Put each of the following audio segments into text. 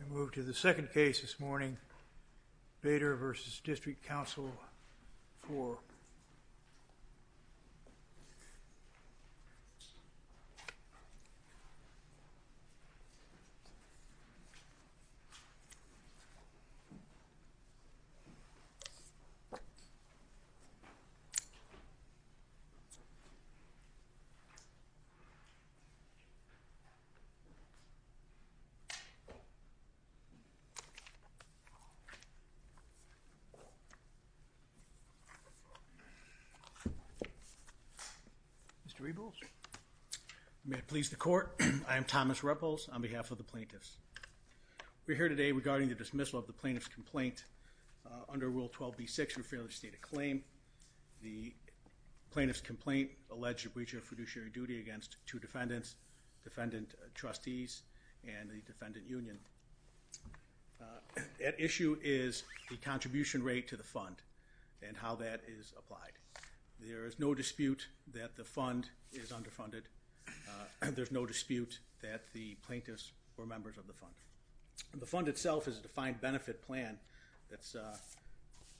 And move to the second case this morning, Bator v. District Council 4. Mr. Rebels, may it please the court, I am Thomas Rebels on behalf of the plaintiffs. We're here today regarding the dismissal of the plaintiff's complaint under Rule 12b-6 for failure to state a claim. The plaintiff's complaint alleged a breach of fiduciary duty against two defendants, defendant trustees, and the defendant union. At issue is the contribution rate to the fund and how that is applied. There is no dispute that the fund is underfunded. There's no dispute that the plaintiffs were members of the fund. The fund itself is a defined benefit plan that's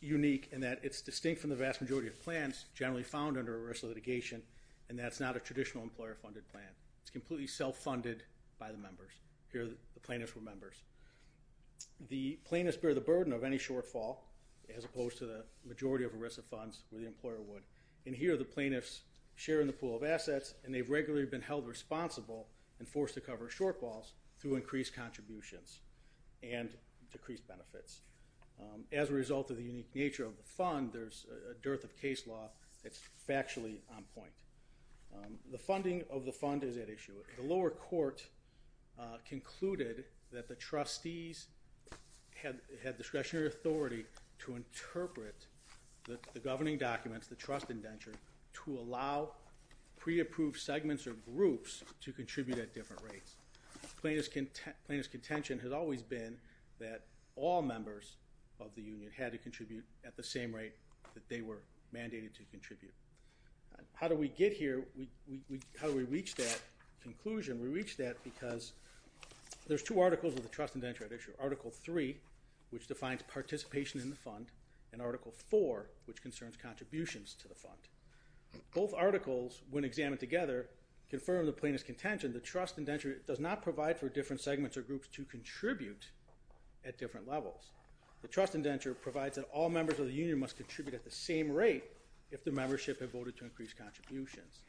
unique in that it's distinct from the vast majority of plans generally found under arrest litigation, and that's not a traditional employer-funded plan. It's completely self-funded by the members. Here the plaintiffs were members. The plaintiffs bear the burden of any shortfall, as opposed to the majority of arrested funds where the employer would. And here the plaintiffs share in the pool of assets, and they've regularly been held responsible and forced to cover shortfalls through increased contributions and decreased benefits. As a result of the unique nature of the fund, there's a dearth of case law that's factually on point. The funding of the fund is at issue. The lower court concluded that the trustees had discretionary authority to interpret the governing documents, the trust indenture, to allow pre-approved segments or groups to contribute at different rates. Plaintiff's contention has always been that all members of the union had to contribute at the same rate that they were mandated to contribute. How do we get here? How do we reach that conclusion? We reach that because there's two articles of the trust indenture at issue. Article 3, which defines participation in the fund, and Article 4, which concerns contributions to the fund. Both articles, when examined together, confirm the plaintiff's contention. The trust indenture does not provide for different segments or groups to contribute at different levels. The trust indenture provides that all members of the union must contribute at the same rate if their membership had voted to increase contributions.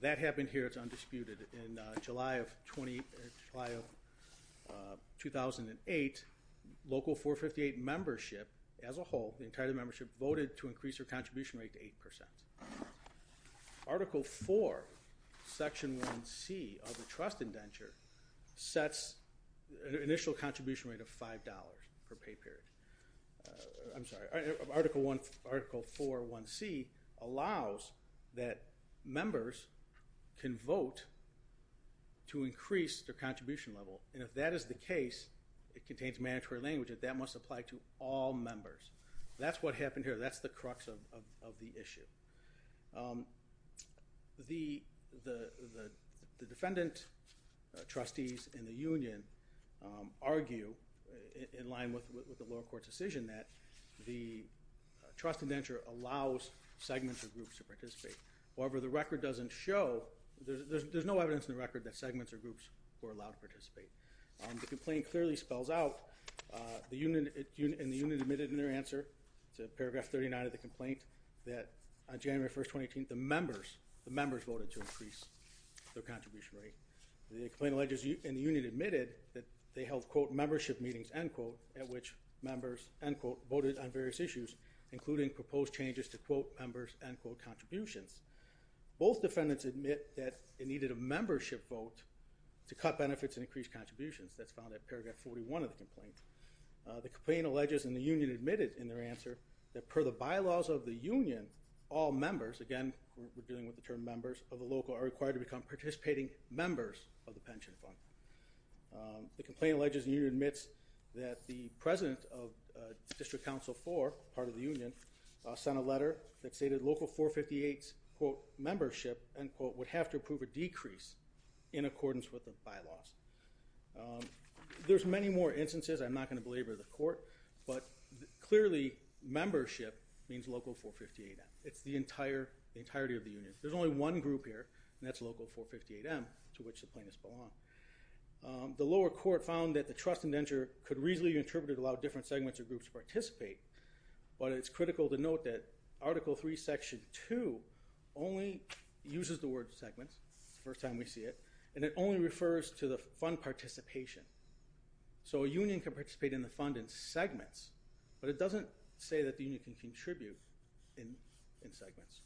That happened here. It's undisputed. In July of 2008, local 458 membership, as a whole, the entire membership, voted to increase their contribution rate to 8%. Article 4, Section 1C of the trust indenture, sets an initial contribution rate of $5 per pay period. I'm sorry. Article 4, 1C, allows that members can vote to increase their contribution level. If that is the case, it contains mandatory language that that must apply to all members. That's what happened here. That's the crux of the issue. The defendant, trustees, and the union argue, in line with the lower court's decision, that the trust indenture allows segments or groups to participate. However, the record doesn't show, there's no evidence in the record that segments or groups were allowed to participate. The complaint clearly spells out, and the union admitted in their answer to Paragraph 39 of the complaint, that on January 1, 2018, the members voted to increase their contribution rate. The complaint alleges, and the union admitted, that they held, quote, membership meetings, end quote, at which members, end quote, voted on various issues, including proposed changes to, quote, members, end quote, contributions. Both defendants admit that they needed a membership vote to cut benefits and increase contributions. That's found at Paragraph 41 of the complaint. The complaint alleges, and the union admitted in their answer, that per the bylaws of the union, all members, again, we're dealing with the term members, of the local are required to become participating members of the pension fund. The complaint alleges the union admits that the president of District Council 4, part of the union, sent a letter that stated local 458's, quote, membership, end quote, would have to approve a decrease in accordance with the bylaws. There's many more instances, I'm not going to belabor the court, but clearly membership means local 458M. It's the entire, the entirety of the union. There's only one group here, and that's local 458M, to which the plaintiffs belong. The lower court found that the trust indenture could reasonably be interpreted to allow different segments or groups to participate, but it's critical to note that Article III, Section 2, only uses the word segments, it's the first time we see it, and it only refers to the fund participation. So a union can participate in the fund in segments, but it doesn't say that the union can contribute in segments.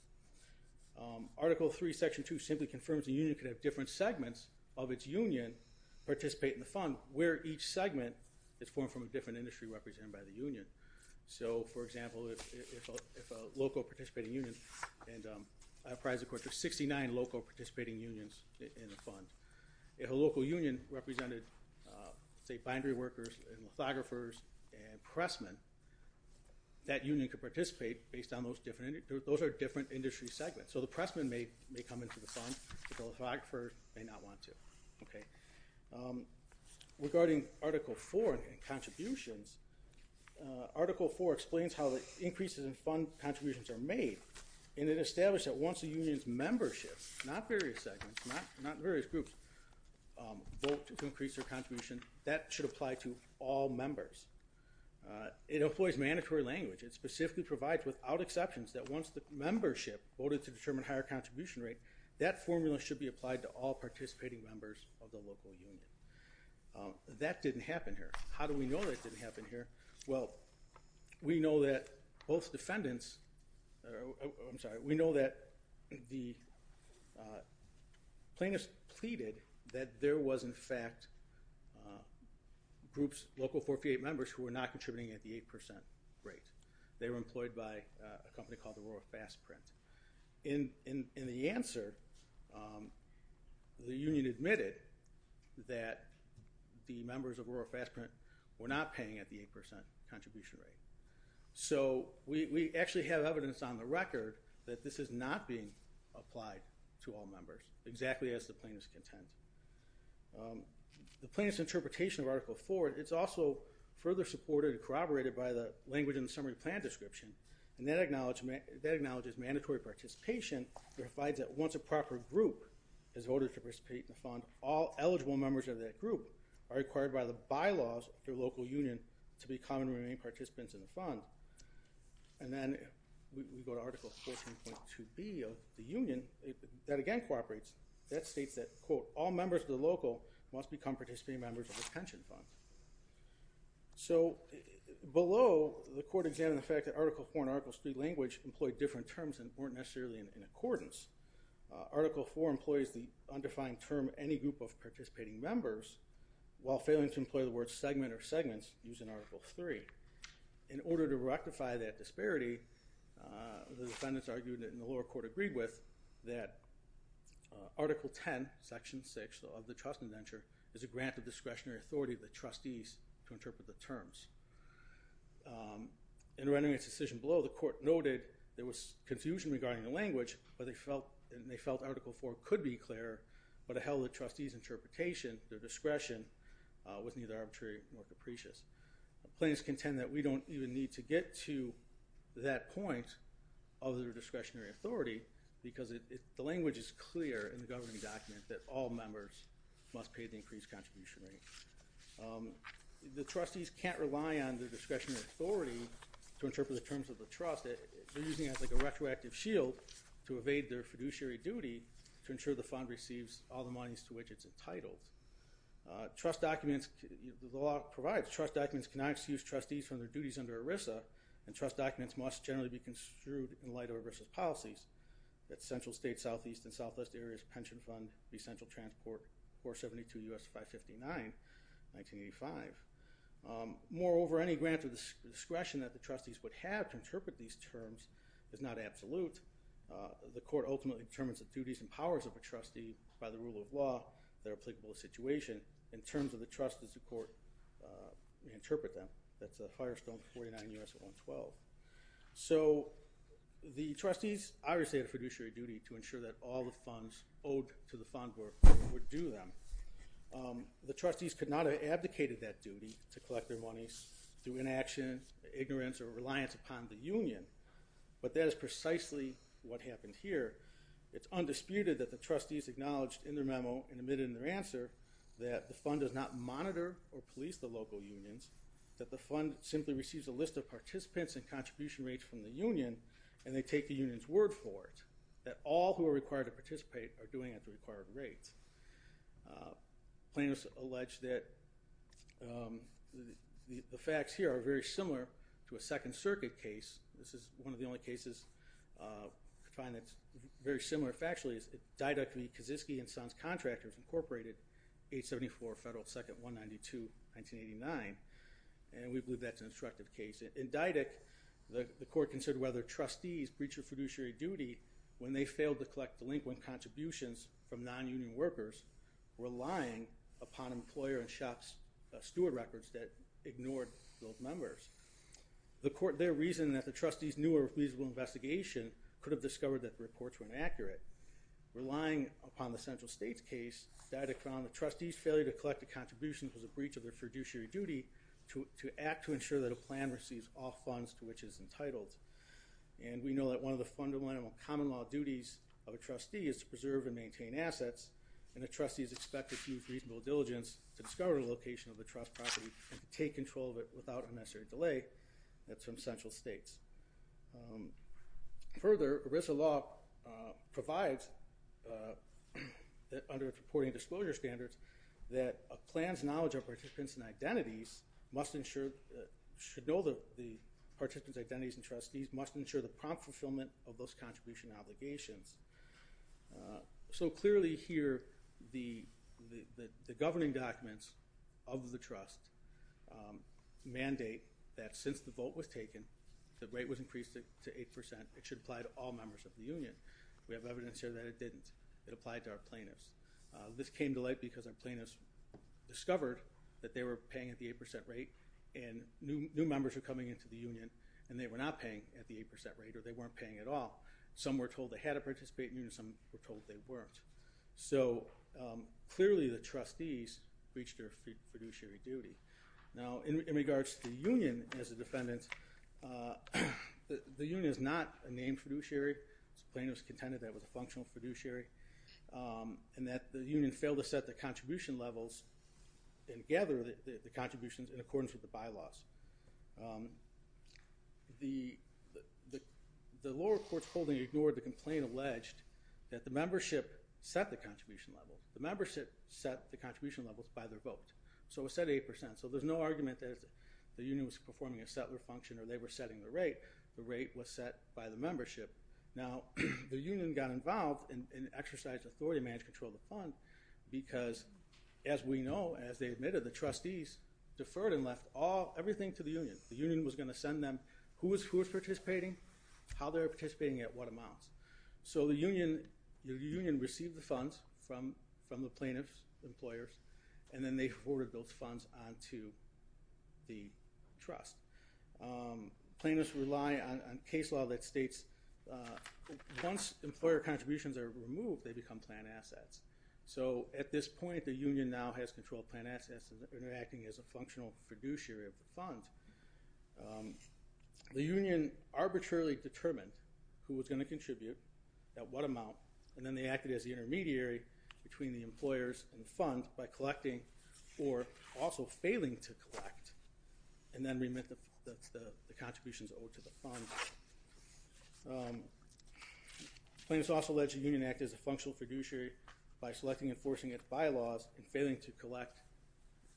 Article III, Section 2, simply confirms a union could have different segments of its union participate in the fund, where each segment is formed from a different industry represented by the union. So for example, if a local participating union, and I apprised the court, there's 69 local participating unions in the fund, if a local union represented, say, bindery workers, lithographers, and pressmen, that union could participate based on those different, those are different industry segments. So the pressmen may come into the fund, the lithographers may not want to. Okay. Regarding Article IV and contributions, Article IV explains how the increases in fund contributions are made, and it established that once a union's membership, not various segments, not various groups, vote to increase their contribution, that should apply to all members. It employs mandatory language, it specifically provides without exceptions that once the membership voted to determine higher contribution rate, that formula should be applied to all participating members of the local union. That didn't happen here. How do we know that didn't happen here? Well, we know that both defendants, I'm sorry, we know that the plaintiffs pleaded that there was in fact groups, local 458 members, who were not contributing at the 8% rate. They were employed by a company called the Royal Fast Print. In the answer, the union admitted that the members of Royal Fast Print were not paying at the 8% contribution rate. So we actually have evidence on the record that this is not being applied to all members, exactly as the plaintiffs contend. The plaintiffs' interpretation of Article IV, it's also further supported and corroborated by the language in the summary plan description, and that acknowledges mandatory participation, it provides that once a proper group has voted to participate in the fund, all eligible members of that group are required by the bylaws of their local union to become and remain participants in the fund. And then we go to Article 14.2B of the union, that again cooperates, that states that, quote, all members of the local must become participating members of the pension fund. So below, the court examined the fact that Article IV and Article III language employed different terms and weren't necessarily in accordance. Article IV employs the undefined term, any group of participating members, while failing to employ the word segment or segments used in Article III. In order to rectify that disparity, the defendants argued, and the lower court agreed with, that Article X, Section 6 of the trust indenture is a grant of discretionary authority of the trustees to interpret the terms. In rendering its decision below, the court noted there was confusion regarding the language, but they felt Article IV could be clearer, but it held the trustees' interpretation, their discretion, was neither arbitrary nor capricious. Plaintiffs contend that we don't even need to get to that point of their discretionary authority because the language is clear in the governing document that all members must pay the increased contribution rate. The trustees can't rely on their discretionary authority to interpret the terms of the trust. They're using it as like a retroactive shield to evade their fiduciary duty to ensure the fund receives all the monies to which it's entitled. Trust documents, the law provides trust documents cannot excuse trustees from their duties under The trust documents must generally be construed in light of reversal policies that central state, southeast, and southwest areas pension fund, the essential transport, 472 U.S. 559, 1985. Moreover, any grant of discretion that the trustees would have to interpret these terms is not absolute. The court ultimately determines the duties and powers of a trustee by the rule of law that are applicable to the situation in terms of the trust as the court may interpret them. That's a higher stone, 49 U.S. 112. So the trustees obviously have a fiduciary duty to ensure that all the funds owed to the fund would do them. The trustees could not have abdicated that duty to collect their monies through inaction, ignorance, or reliance upon the union, but that is precisely what happened here. It's undisputed that the trustees acknowledged in their memo and admitted in their answer that the fund does not monitor or police the local unions, that the fund simply receives a list of participants and contribution rates from the union, and they take the union's word for it, that all who are required to participate are doing at the required rates. Plaintiffs allege that the facts here are very similar to a Second Circuit case. This is one of the only cases I find that's very similar factually, is it didactically Kazitsky and Sons Contractors Incorporated, 874 Federal 2nd, 192, 1989, and we believe that's an instructive case. In didact, the court considered whether trustees breached their fiduciary duty when they failed to collect delinquent contributions from non-union workers, relying upon employer and shop's steward records that ignored those numbers. The court there reasoned that the trustees' new or feasible investigation could have discovered that the reports were inaccurate. Relying upon the central states case, didact found the trustees' failure to collect the contributions was a breach of their fiduciary duty to act to ensure that a plan receives all funds to which it's entitled, and we know that one of the fundamental common law duties of a trustee is to preserve and maintain assets, and a trustee is expected to use reasonable diligence to discover the location of the trust property and to take control of it without unnecessary delay, and that's from central states. Further, ERISA law provides, under reporting disclosure standards, that a plan's knowledge of participants' identities must ensure, should know the participants' identities and trustees must ensure the prompt fulfillment of those contribution obligations. So clearly here, the governing documents of the trust mandate that since the vote was increased to 8%, it should apply to all members of the union. We have evidence here that it didn't. It applied to our plaintiffs. This came to light because our plaintiffs discovered that they were paying at the 8% rate, and new members were coming into the union, and they were not paying at the 8% rate, or they weren't paying at all. Some were told they had to participate in the union, some were told they weren't. So clearly the trustees breached their fiduciary duty. Now, in regards to the union as a defendant, the union is not a named fiduciary. The plaintiff's contended that it was a functional fiduciary, and that the union failed to set the contribution levels and gather the contributions in accordance with the bylaws. The lower court's holding ignored the complaint alleged that the membership set the contribution level. The membership set the contribution levels by their vote. So it was set at 8%. So there's no argument that the union was performing a settler function or they were setting the rate. The rate was set by the membership. Now, the union got involved and exercised authority to manage control of the fund because, as we know, as they admitted, the trustees deferred and left everything to the union. The union was going to send them who was participating, how they were participating, at what amounts. So the union received the funds from the plaintiff's employers, and then they forwarded those funds on to the trust. Plaintiffs rely on case law that states once employer contributions are removed, they become planned assets. So at this point, the union now has control of planned assets and they're acting as a functional fiduciary of the fund. The union arbitrarily determined who was going to contribute, at what amount, and then they acted as the intermediary between the employers and the fund by collecting or also failing to collect, and then remit the contributions over to the fund. Plaintiffs also alleged the union acted as a functional fiduciary by selecting and enforcing its bylaws and failing to collect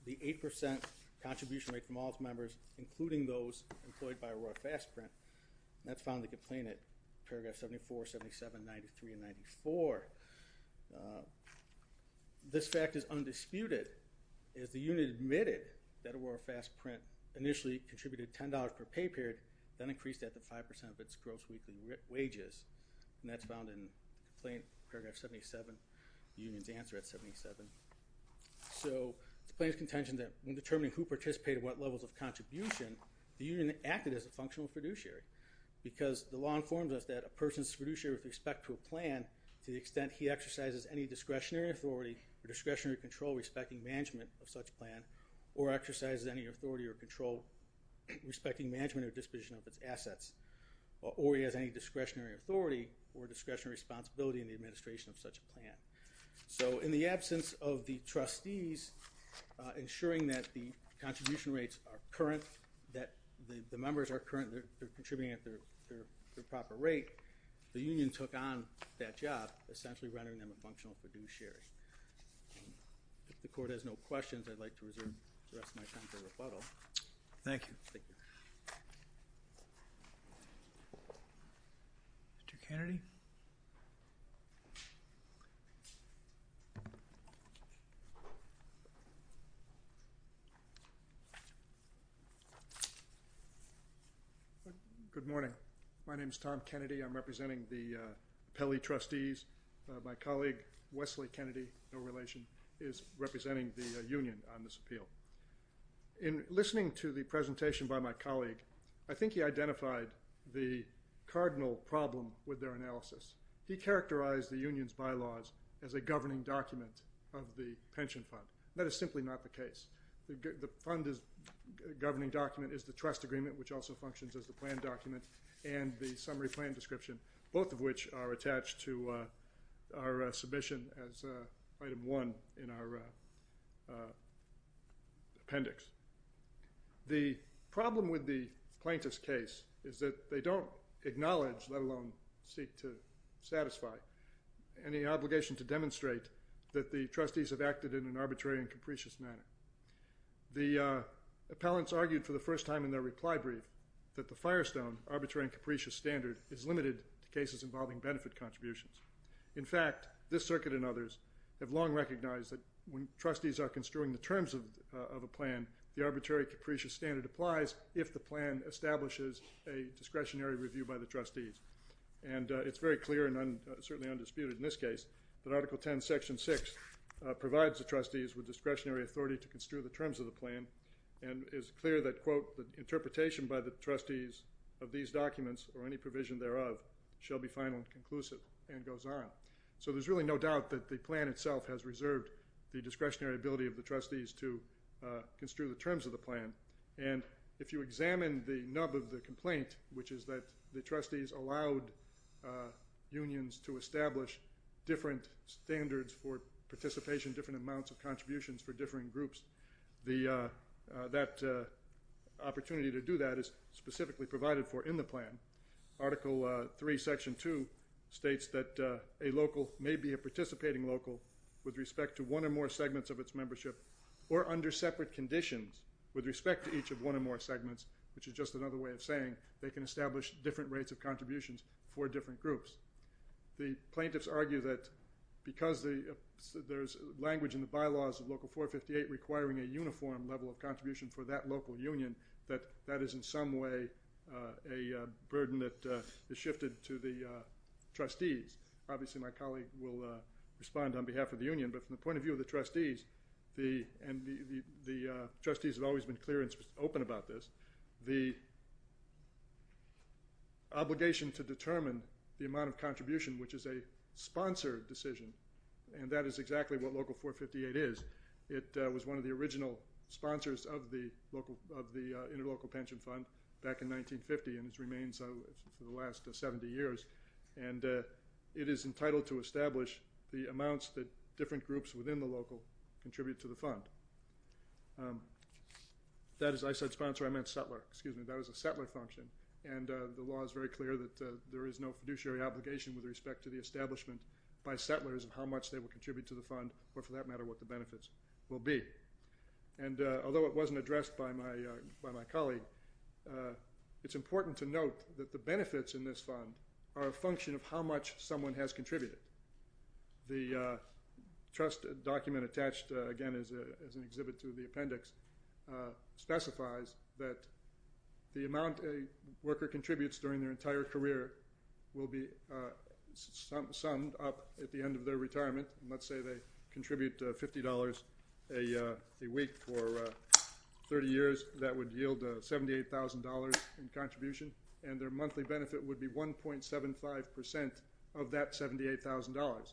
the 8% contribution rate from all its members, including those employed by Aurora Fast Print, and that's found in the complaint at paragraph 74, 77, 93, and 94. This fact is undisputed, as the union admitted that Aurora Fast Print initially contributed $10 per pay period, then increased that to 5% of its gross weekly wages, and that's found in complaint paragraph 77, the union's answer at 77. So the plaintiff's contention that when determining who participated at what levels of contribution, the union acted as a functional fiduciary, because the law informs us that a person's fiduciary with respect to a plan, to the extent he exercises any discretionary authority or discretionary control respecting management of such a plan, or exercises any authority or control respecting management or disposition of its assets, or he has any discretionary authority or discretionary responsibility in the administration of such a plan. So in the absence of the trustees ensuring that the contribution rates are current, that the members are current, they're contributing at their proper rate, the union took on that job, essentially rendering them a functional fiduciary. If the court has no questions, I'd like to reserve the rest of my time for rebuttal. Thank you. Thank you. Thank you. Mr. Kennedy? Good morning. My name is Tom Kennedy. I'm representing the Pele Trustees. My colleague, Wesley Kennedy, no relation, is representing the union on this appeal. In listening to the presentation by my colleague, I think he identified the cardinal problem with their analysis. He characterized the union's bylaws as a governing document of the pension fund. That is simply not the case. The fund's governing document is the trust agreement, which also functions as the plan document, and the summary plan description, both of which are attached to our submission as item one in our appendix. The problem with the plaintiff's case is that they don't acknowledge, let alone seek to satisfy, any obligation to demonstrate that the trustees have acted in an arbitrary and capricious manner. The appellants argued for the first time in their reply brief that the Firestone arbitrary and capricious standard is limited to cases involving benefit contributions. In fact, this circuit and others have long recognized that when trustees are construing the terms of a plan, the arbitrary and capricious standard applies if the plan establishes a discretionary review by the trustees. It's very clear and certainly undisputed in this case that Article 10, Section 6 provides the trustees with discretionary authority to construe the terms of the plan and is clear that, quote, the interpretation by the trustees of these documents or any provision thereof shall be final and conclusive, and goes on. So there's really no doubt that the plan itself has reserved the discretionary ability of the trustees to construe the terms of the plan, and if you examine the nub of the complaint, which is that the trustees allowed unions to establish different standards for participation, different amounts of contributions for differing groups, that opportunity to do that is specifically provided for in the plan. Article 3, Section 2, states that a local may be a participating local with respect to one or more segments of its membership or under separate conditions with respect to each of one or more segments, which is just another way of saying they can establish different rates of contributions for different groups. The plaintiffs argue that because there's language in the bylaws of Local 458 requiring a uniform level of contribution for that local union that that is in some way a burden that is shifted to the trustees. Obviously, my colleague will respond on behalf of the union, but from the point of view of the trustees, the trustees have always been clear and open about this. The obligation to determine the amount of contribution, which is a sponsored decision, and that is exactly what Local 458 is. It was one of the original sponsors of the Interlocal Pension Fund back in 1950 and has remained so for the last 70 years. And it is entitled to establish the amounts that different groups within the local contribute to the fund. That is, I said sponsor. I meant settler. Excuse me. That was a settler function, and the law is very clear that there is no fiduciary obligation with respect to the establishment by settlers of how much they will contribute to the fund or for that matter what the benefits will be. And although it wasn't addressed by my colleague, it's important to note that the benefits in this fund are a function of how much someone has contributed. The trust document attached again as an exhibit to the appendix specifies that the amount a worker contributes during their entire career will be summed up at the end of their retirement. Let's say they contribute $50 a week for 30 years. That would yield $78,000 in contribution, and their monthly benefit would be 1.75% of that $78,000.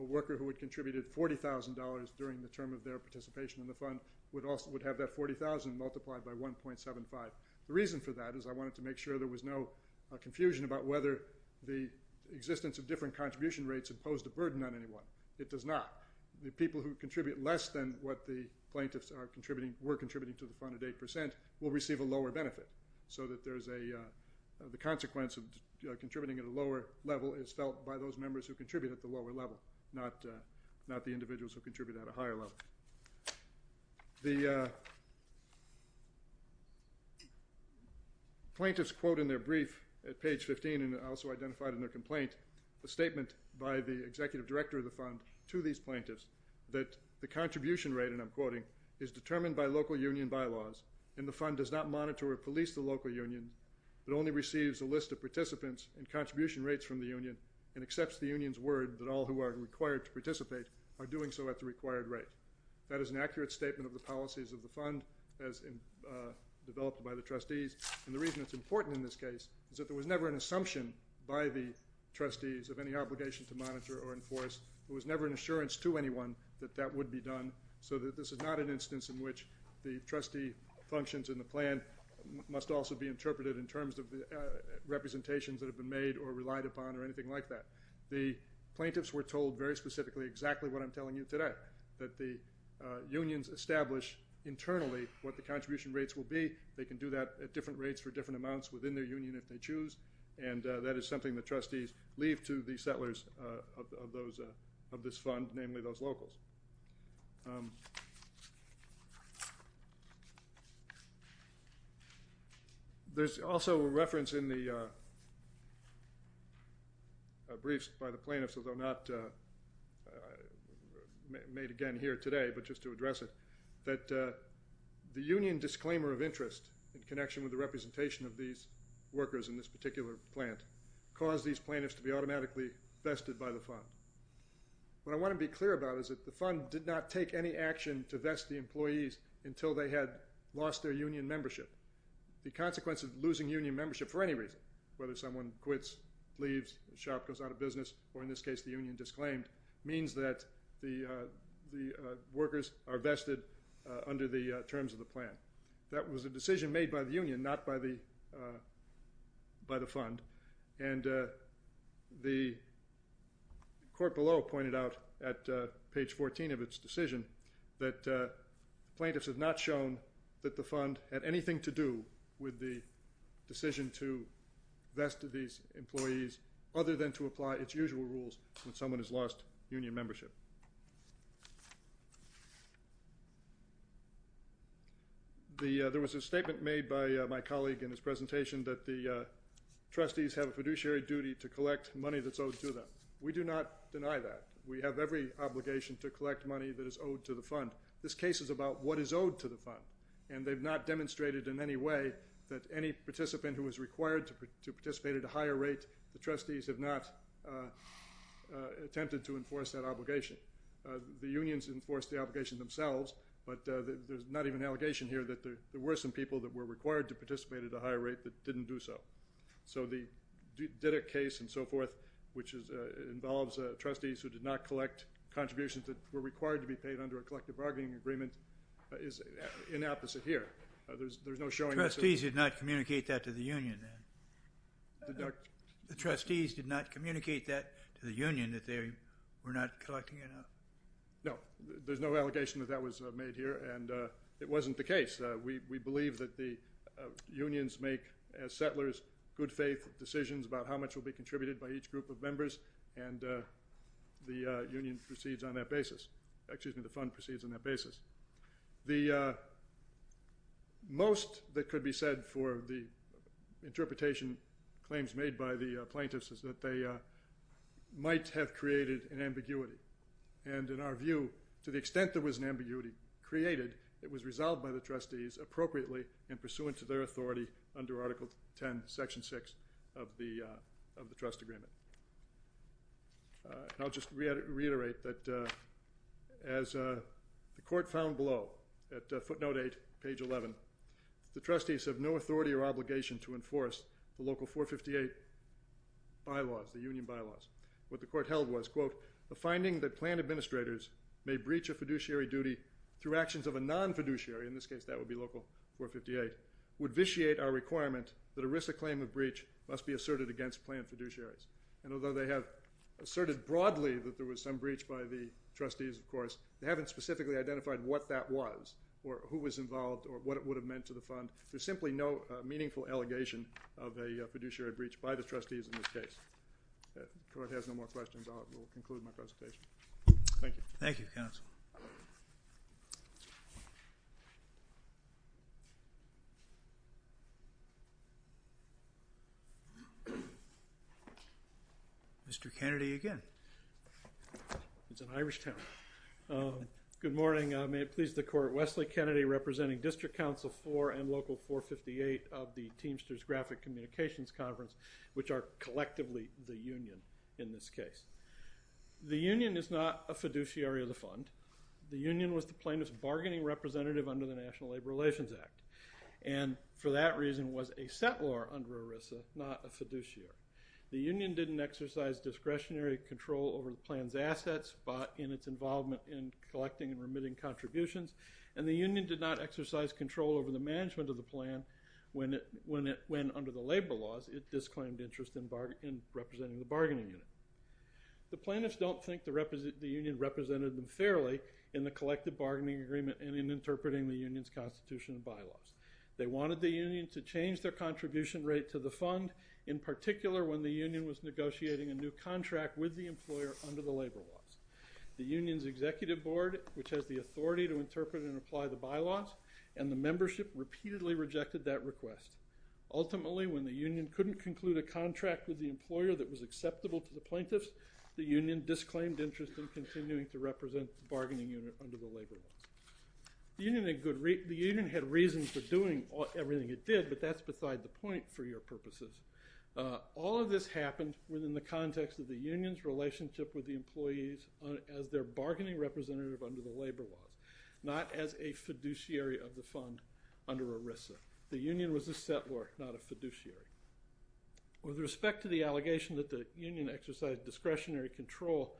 A worker who had contributed $40,000 during the term of their participation in the fund would have that $40,000 multiplied by 1.75%. The reason for that is I wanted to make sure there was no confusion about whether the existence of different contribution rates imposed a burden on anyone. It does not. The people who contribute less than what the plaintiffs were contributing to the fund at 8% will receive a lower benefit. So the consequence of contributing at a lower level is felt by those members who contribute at the lower level, not the individuals who contribute at a higher level. The plaintiffs quote in their brief at page 15, and also identified in their complaint, the statement by the executive director of the fund to these plaintiffs that the contribution rate, and I'm quoting, is determined by local union bylaws, and the fund does not monitor or police the local union that only receives a list of participants and contribution rates from the union and accepts the union's word that all who are required to participate are doing so at the required rate. That is an accurate statement of the policies of the fund as developed by the trustees, and the reason it's important in this case is that there was never an assumption by the trustees of any obligation to monitor or enforce. There was never an assurance to anyone that that would be done, so that this is not an instance in which the trustee functions in the plan must also be interpreted in terms of the representations that have been made or relied upon or anything like that. The plaintiffs were told very specifically exactly what I'm telling you today, that the unions establish internally what the contribution rates will be. They can do that at different rates for different amounts within their union if they choose, and that is something the trustees leave to the settlers of this fund, namely those locals. There's also a reference in the briefs by the plaintiffs, although not made again here today, but just to address it, that the union disclaimer of interest in connection with the representation of these workers in this particular plant caused these plaintiffs to be automatically vested by the fund. The fund did not take any action to vest the employees until they had lost their union membership. The consequence of losing union membership for any reason, whether someone quits, leaves, the shop goes out of business, or in this case the union disclaimed, means that the workers are vested under the terms of the plan. That was a decision made by the union, not by the fund, and the court below pointed out at page 14 of its decision that plaintiffs have not shown that the fund had anything to do with the decision to vest these employees other than to apply its usual rules when someone has lost union membership. There was a statement made by my colleague in his presentation that the trustees have a fiduciary duty to collect money that's owed to them. We do not deny that. We have every obligation to collect money that is owed to the fund. This case is about what is owed to the fund, and they've not demonstrated in any way that any participant who was required to participate at a higher rate, the trustees have not attempted to enforce that obligation. The unions enforced the obligation themselves, but there's not even an allegation here that there were some people that were required to participate at a higher rate that didn't do so. So the Diddick case and so forth, which involves trustees who did not collect contributions that were required to be paid under a collective bargaining agreement, is inopposite here. Trustees did not communicate that to the union, then? The trustees did not communicate that to the union, that they were not collecting enough? No, there's no allegation that that was made here, and it wasn't the case. We believe that the unions make, as settlers, good faith decisions about how much will be contributed by each group of members, and the union proceeds on that basis. Excuse me, the fund proceeds on that basis. The most that could be said for the interpretation, claims made by the plaintiffs, is that they might have created an ambiguity. And in our view, to the extent there was an ambiguity created, it was resolved by the trustees appropriately and pursuant to their authority under Article 10, Section 6 of the trust agreement. I'll just reiterate that as the court found below, at footnote 8, page 11, the trustees have no authority or obligation to enforce the local 458 bylaws, the union bylaws. What the court held was, quote, the finding that planned administrators may breach a fiduciary duty through actions of a non-fiduciary, in this case that would be local 458, would vitiate our requirement that a risk of claim of breach must be asserted against planned fiduciaries. And although they have asserted broadly that there was some breach by the trustees, of course, they haven't specifically identified what that was, or who was involved, or what it would have meant to the fund. There's simply no meaningful allegation of a fiduciary breach by the trustees in this case. If the court has no more questions, I will conclude my presentation. Thank you. Thank you, counsel. Mr. Kennedy again. It's an Irish town. Good morning. May it please the court, Wesley Kennedy representing District Counsel for and local 458 of the Teamsters Graphic Communications Conference, which are collectively the union in this case. The union is not a fiduciary of the fund. The union was the plaintiff's bargaining representative under the National Labor Relations Act, and for that reason was a settlor under ERISA, not a fiduciary. The union didn't exercise discretionary control over the plan's assets, but in its involvement in collecting and remitting contributions, and the union did not exercise control over the management of the plan when, under the labor laws, it disclaimed interest in representing the bargaining unit. The plaintiffs don't think the union represented them fairly in the collective bargaining agreement and in interpreting the union's constitution and bylaws. They wanted the union to change their contribution rate to the fund, in particular when the union was negotiating a new contract with the employer under the labor laws. The union's executive board, which has the authority to interpret and apply the bylaws, and the membership repeatedly rejected that request. Ultimately, when the union couldn't conclude a contract with the employer that was acceptable to the plaintiffs, the union disclaimed interest in continuing to represent the bargaining unit under the labor laws. The union had reason for doing everything it did, but that's beside the point for your purposes. All of this happened within the context of the union's relationship with the employees as their bargaining representative under the labor laws, not as a fiduciary of the fund under ERISA. The union was a settlor, not a fiduciary. With respect to the allegation that the union exercised discretionary control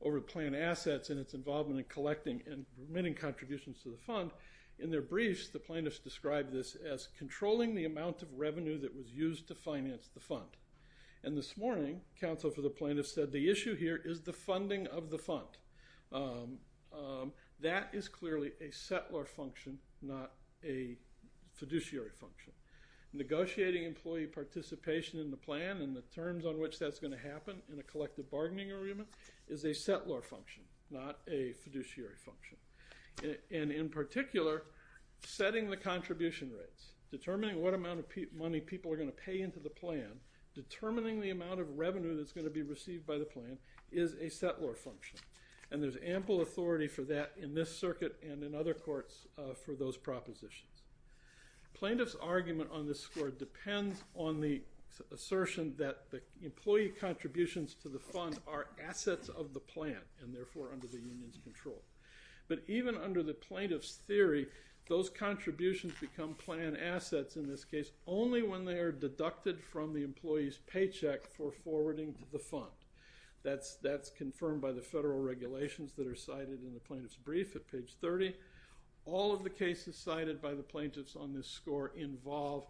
over the plan assets and its involvement in collecting and remitting contributions to the fund, in their briefs, the plaintiffs described this as controlling the amount of revenue that was used to finance the fund. And this morning, counsel for the plaintiffs said the issue here is the funding of the fund. That is clearly a settlor function, not a fiduciary function. Negotiating employee participation in the plan and the terms on which that's going to happen in a collective bargaining agreement is a settlor function, not a fiduciary function. And in particular, setting the contribution rates, determining what amount of money people are going to pay into the plan, determining the amount of revenue that's going to be received by the plan is a settlor function. And there's ample authority for that in this circuit and in other courts for those propositions. Plaintiffs' argument on this score depends on the assertion that the employee contributions to the fund are assets of the plan, and therefore under the union's control. But even under the plaintiff's theory, those contributions become plan assets in this case only when they are deducted from the employee's paycheck for forwarding to the fund. That's confirmed by the federal regulations that are cited in the plaintiff's brief at page 30. All of the cases cited by the plaintiffs on this score involve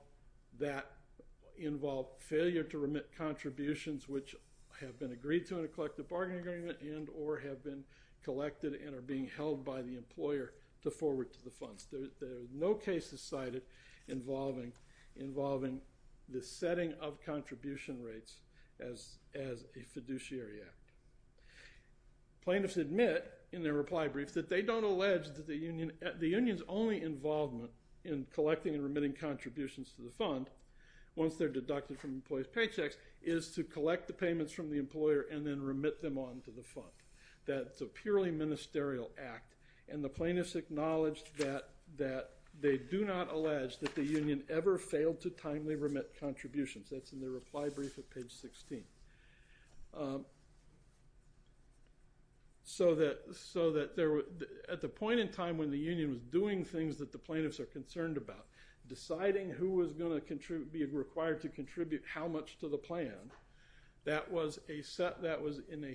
failure to remit contributions which have been agreed to in a collective bargaining agreement and or have been collected and are being held by the employer to forward to the funds. There are no cases cited involving the setting of contribution rates as a fiduciary act. Plaintiffs admit in their reply brief that they don't allege that the union's only involvement in collecting and remitting contributions to the fund once they're deducted from employee's paychecks is to collect the payments from the employer and then remit them on to the fund. That's a purely ministerial act, and the plaintiffs acknowledge that they do not allege that the union ever failed to timely remit contributions. That's in their reply brief at page 16. So that at the point in time when the union was doing things that the plaintiffs are concerned about, deciding who was going to be required to contribute how much to the plan, that was in a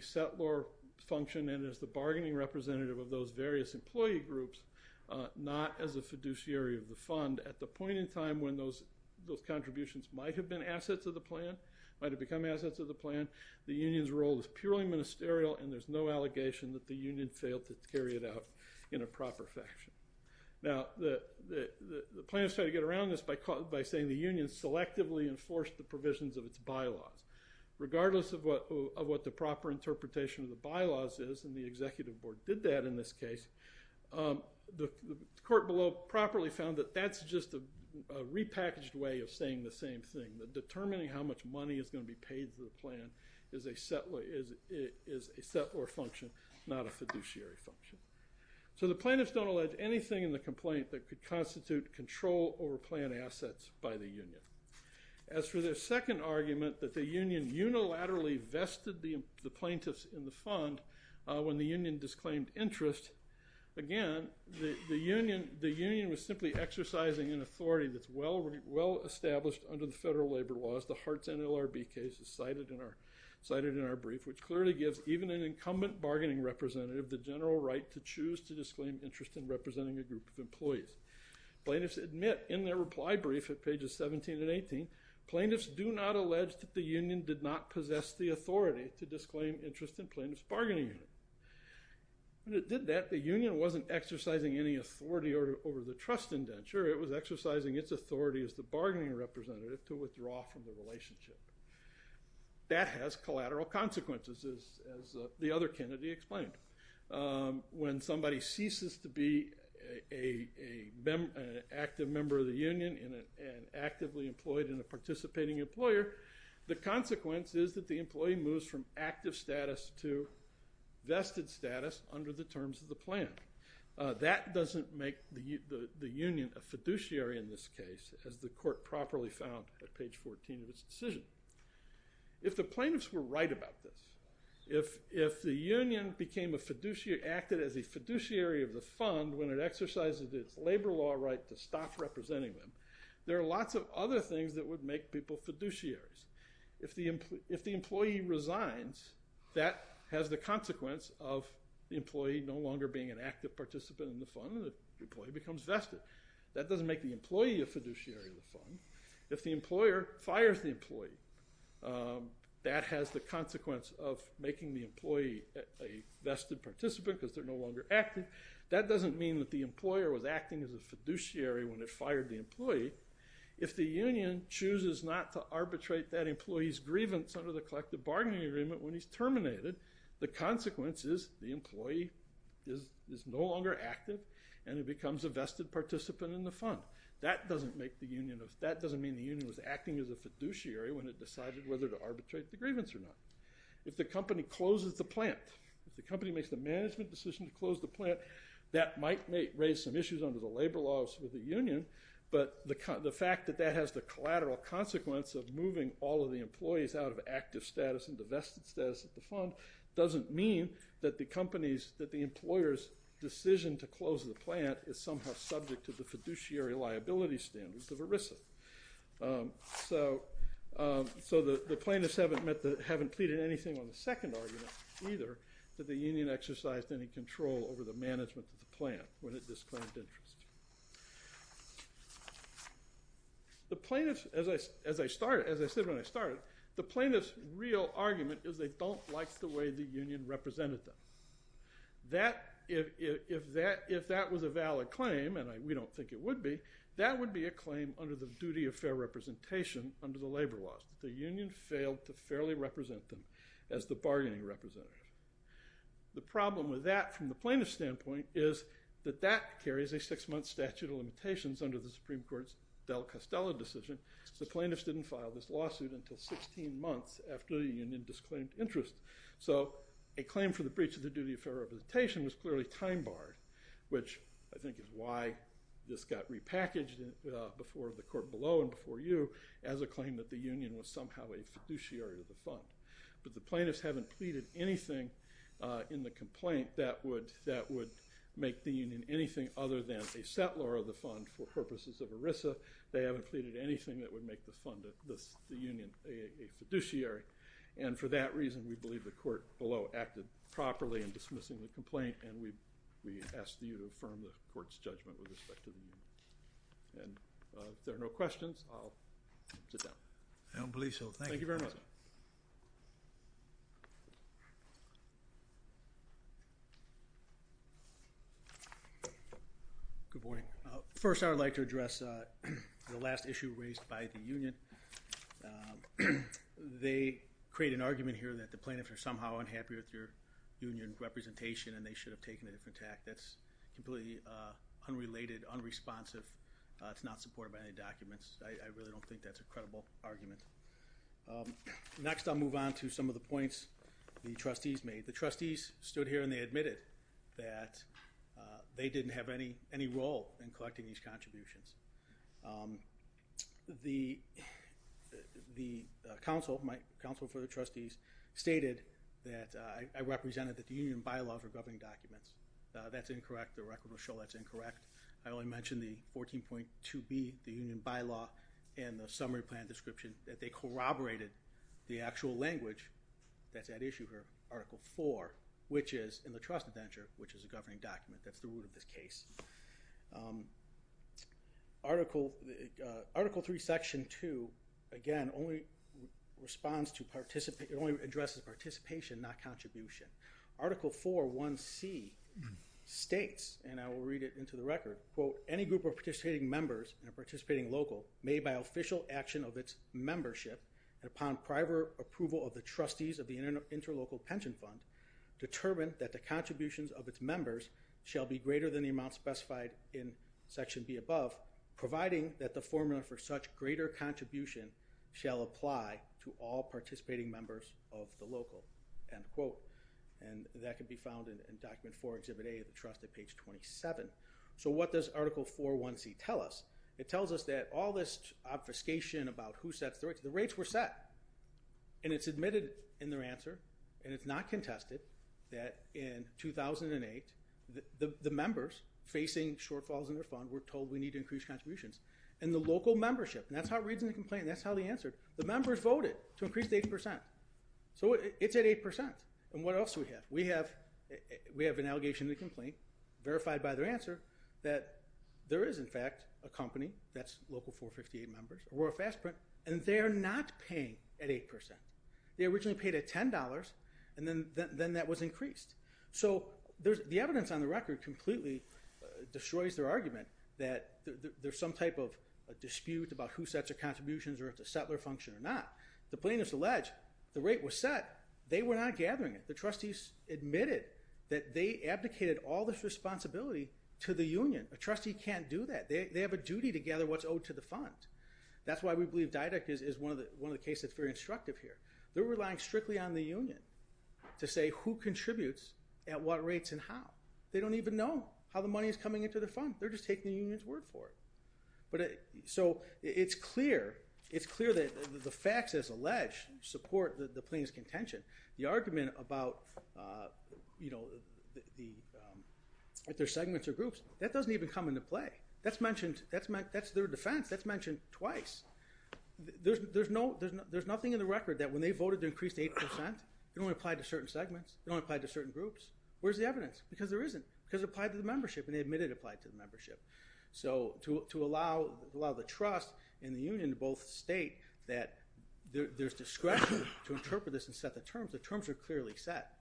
settlor function and as the bargaining representative of those various employee groups, not as a fiduciary of the fund. At the point in time when those contributions might have become assets of the plan, the union's role is purely ministerial and there's no allegation that the union failed to carry it out in a proper fashion. Now the plaintiffs try to get around this by saying the union selectively enforced the provisions of its bylaws. Regardless of what the proper interpretation of the bylaws is, and the executive board did that in this case, the court below properly found that that's just a repackaged way of saying the same thing. That determining how much money is going to be paid to the plan is a settlor function, not a fiduciary function. So the plaintiffs don't allege anything in the complaint that could constitute control over plan assets by the union. As for their second argument that the union unilaterally vested the plaintiffs in the fund when the union disclaimed interest, again the union was simply exercising an authority that's well established under the federal labor laws, the Hart's NLRB cases cited in our brief, which clearly gives even an incumbent bargaining representative the general right to choose to disclaim interest in representing a group of employees. Plaintiffs admit in their reply brief at pages 17 and 18, plaintiffs do not allege that the union did not possess the authority to disclaim interest in plaintiffs' bargaining unit. When it did that, the union wasn't exercising any authority over the trust indenture, it was exercising its authority as the bargaining representative to withdraw from the relationship. That has collateral consequences, as the other Kennedy explained. When somebody ceases to be an active member of the union and actively employed in a participating employer, the consequence is that the employee moves from active status to vested status under the terms of the plan. That doesn't make the union a fiduciary in this case, as the court properly found at page 14 of its decision. If the plaintiffs were right about this, if the union acted as a fiduciary of the fund when it exercised its labor law right to stop representing them, there are lots of other things that would make people fiduciaries. If the employee resigns, that has the consequence of the employee no longer being an active participant in the fund and the employee becomes vested. That doesn't make the employee a fiduciary of the fund. that has the consequence of making the employee a vested participant because they're no longer active. That doesn't mean that the employer was acting as a fiduciary when it fired the employee. If the union chooses not to arbitrate that employee's grievance under the collective bargaining agreement when he's terminated, the consequence is the employee is no longer active and he becomes a vested participant in the fund. That doesn't mean the union was acting as a fiduciary when it decided whether to arbitrate the grievance or not. If the company closes the plant, if the company makes the management decision to close the plant, that might raise some issues under the labor laws of the union, but the fact that that has the collateral consequence of moving all of the employees out of active status and the vested status of the fund doesn't mean that the employer's decision to close the plant is somehow subject to the fiduciary liability standards of ERISA. So the plaintiffs haven't pleaded anything on the second argument, either, that the union exercised any control over the management of the plant when it disclaimed interest. As I said when I started, the plaintiffs' real argument is they don't like the way the union represented them. If that was a valid claim, and we don't think it would be, that would be a claim under the duty of fair representation under the labor laws, that the union failed to fairly represent them as the bargaining representative. The problem with that from the plaintiff's standpoint is that that carries a six-month statute of limitations under the Supreme Court's Del Castello decision, so plaintiffs didn't file this lawsuit until 16 months after the union disclaimed interest. So a claim for the breach of the duty of fair representation was clearly time-barred, which I think is why this got repackaged before the court below and before you as a claim that the union was somehow a fiduciary of the fund. But the plaintiffs haven't pleaded anything in the complaint that would make the union anything other than a settlor of the fund for purposes of ERISA. They haven't pleaded anything that would make the union a fiduciary. And for that reason, we believe the court below acted properly in dismissing the complaint and we ask you to affirm the court's judgment with respect to the union. If there are no questions, I'll sit down. I don't believe so. Thank you. Good morning. First, I would like to address the last issue raised by the union. They create an argument here that the plaintiffs are somehow unhappy with your union representation and they should have taken a different tact. That's completely unrelated, unresponsive. It's not supported by any documents. I really don't think that's a credible argument. Next, I'll move on to some of the points the trustees made. The trustees stood here and they admitted that they didn't have any role in collecting these contributions. My counsel for the trustees stated that I represented that the union bylaws are governing documents. That's incorrect. The record will show that's incorrect. I only mentioned the 14.2B, the union bylaw and the summary plan description that they corroborated the actual language that's at issue here, Article 4, which is in the trust adventure, which is a governing document. That's the root of this case. Article 3, Section 2, again, only responds to participation. It only addresses participation, not contribution. Article 4.1C states, and I will read it into the record, quote, any group of participating members and participating local made by official action of its membership and upon prior approval of the trustees of the interlocal pension fund determined that the contributions of its members shall be greater than the amount specified in Section B above providing that the formula for such greater contribution shall apply to all participating members of the local, end quote. And that can be found in Document 4, Exhibit A of the trust at page 27. So what does Article 4.1C tell us? It tells us that all this obfuscation about who sets the rates, the rates were set and it's admitted in their answer and it's not contested that in 2008 the members facing shortfalls in their fund were told we need to increase contributions. And the local membership, and that's how it reads in the complaint, that's how they answered, the members voted to increase to 8%. So it's at 8%. And what else do we have? We have an allegation in the complaint, verified by their answer, that there is, in fact, a company that's local 458 members and they're not paying at 8%. They originally paid at $10 and then that was increased. So the evidence on the record completely destroys their argument that there's some type of dispute about who sets the contributions or if it's a settler function or not. The plaintiffs allege the rate was set, they were not gathering it. The trustees admitted that they abdicated all this responsibility to the union. A trustee can't do that. They have a duty to gather what's owed to the fund. That's why we believe Direct is one of the cases that's very instructive here. They're relying strictly on the union to say who contributes at what rates and how. They don't even know how the money is coming into the fund. They're just taking the union's word for it. So it's clear that the facts, as alleged, The argument about their segments or groups, that doesn't even come into play. That's their defense. That's mentioned twice. There's nothing in the record that when they voted to increase to 8%, it only applied to certain segments, it only applied to certain groups. Where's the evidence? Because it applied to the membership and they admitted it applied to the membership. So to allow the trust in the union to both state that there's discretion to interpret this and set the terms, the terms are clearly set.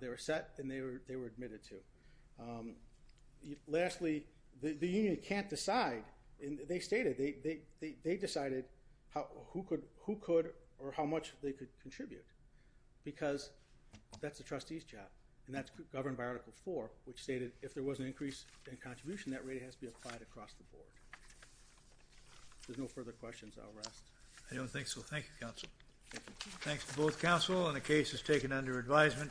They were set and they were admitted to. Lastly, the union can't decide. They stated, they decided who could or how much they could contribute. Because that's the trustee's job. And that's governed by Article 4, which stated if there was an increase in contribution, that rate has to be applied across the board. If there's no further questions, I'll rest. I don't think so. Thank you, counsel. Thanks to both counsel and the case is taken under advisement.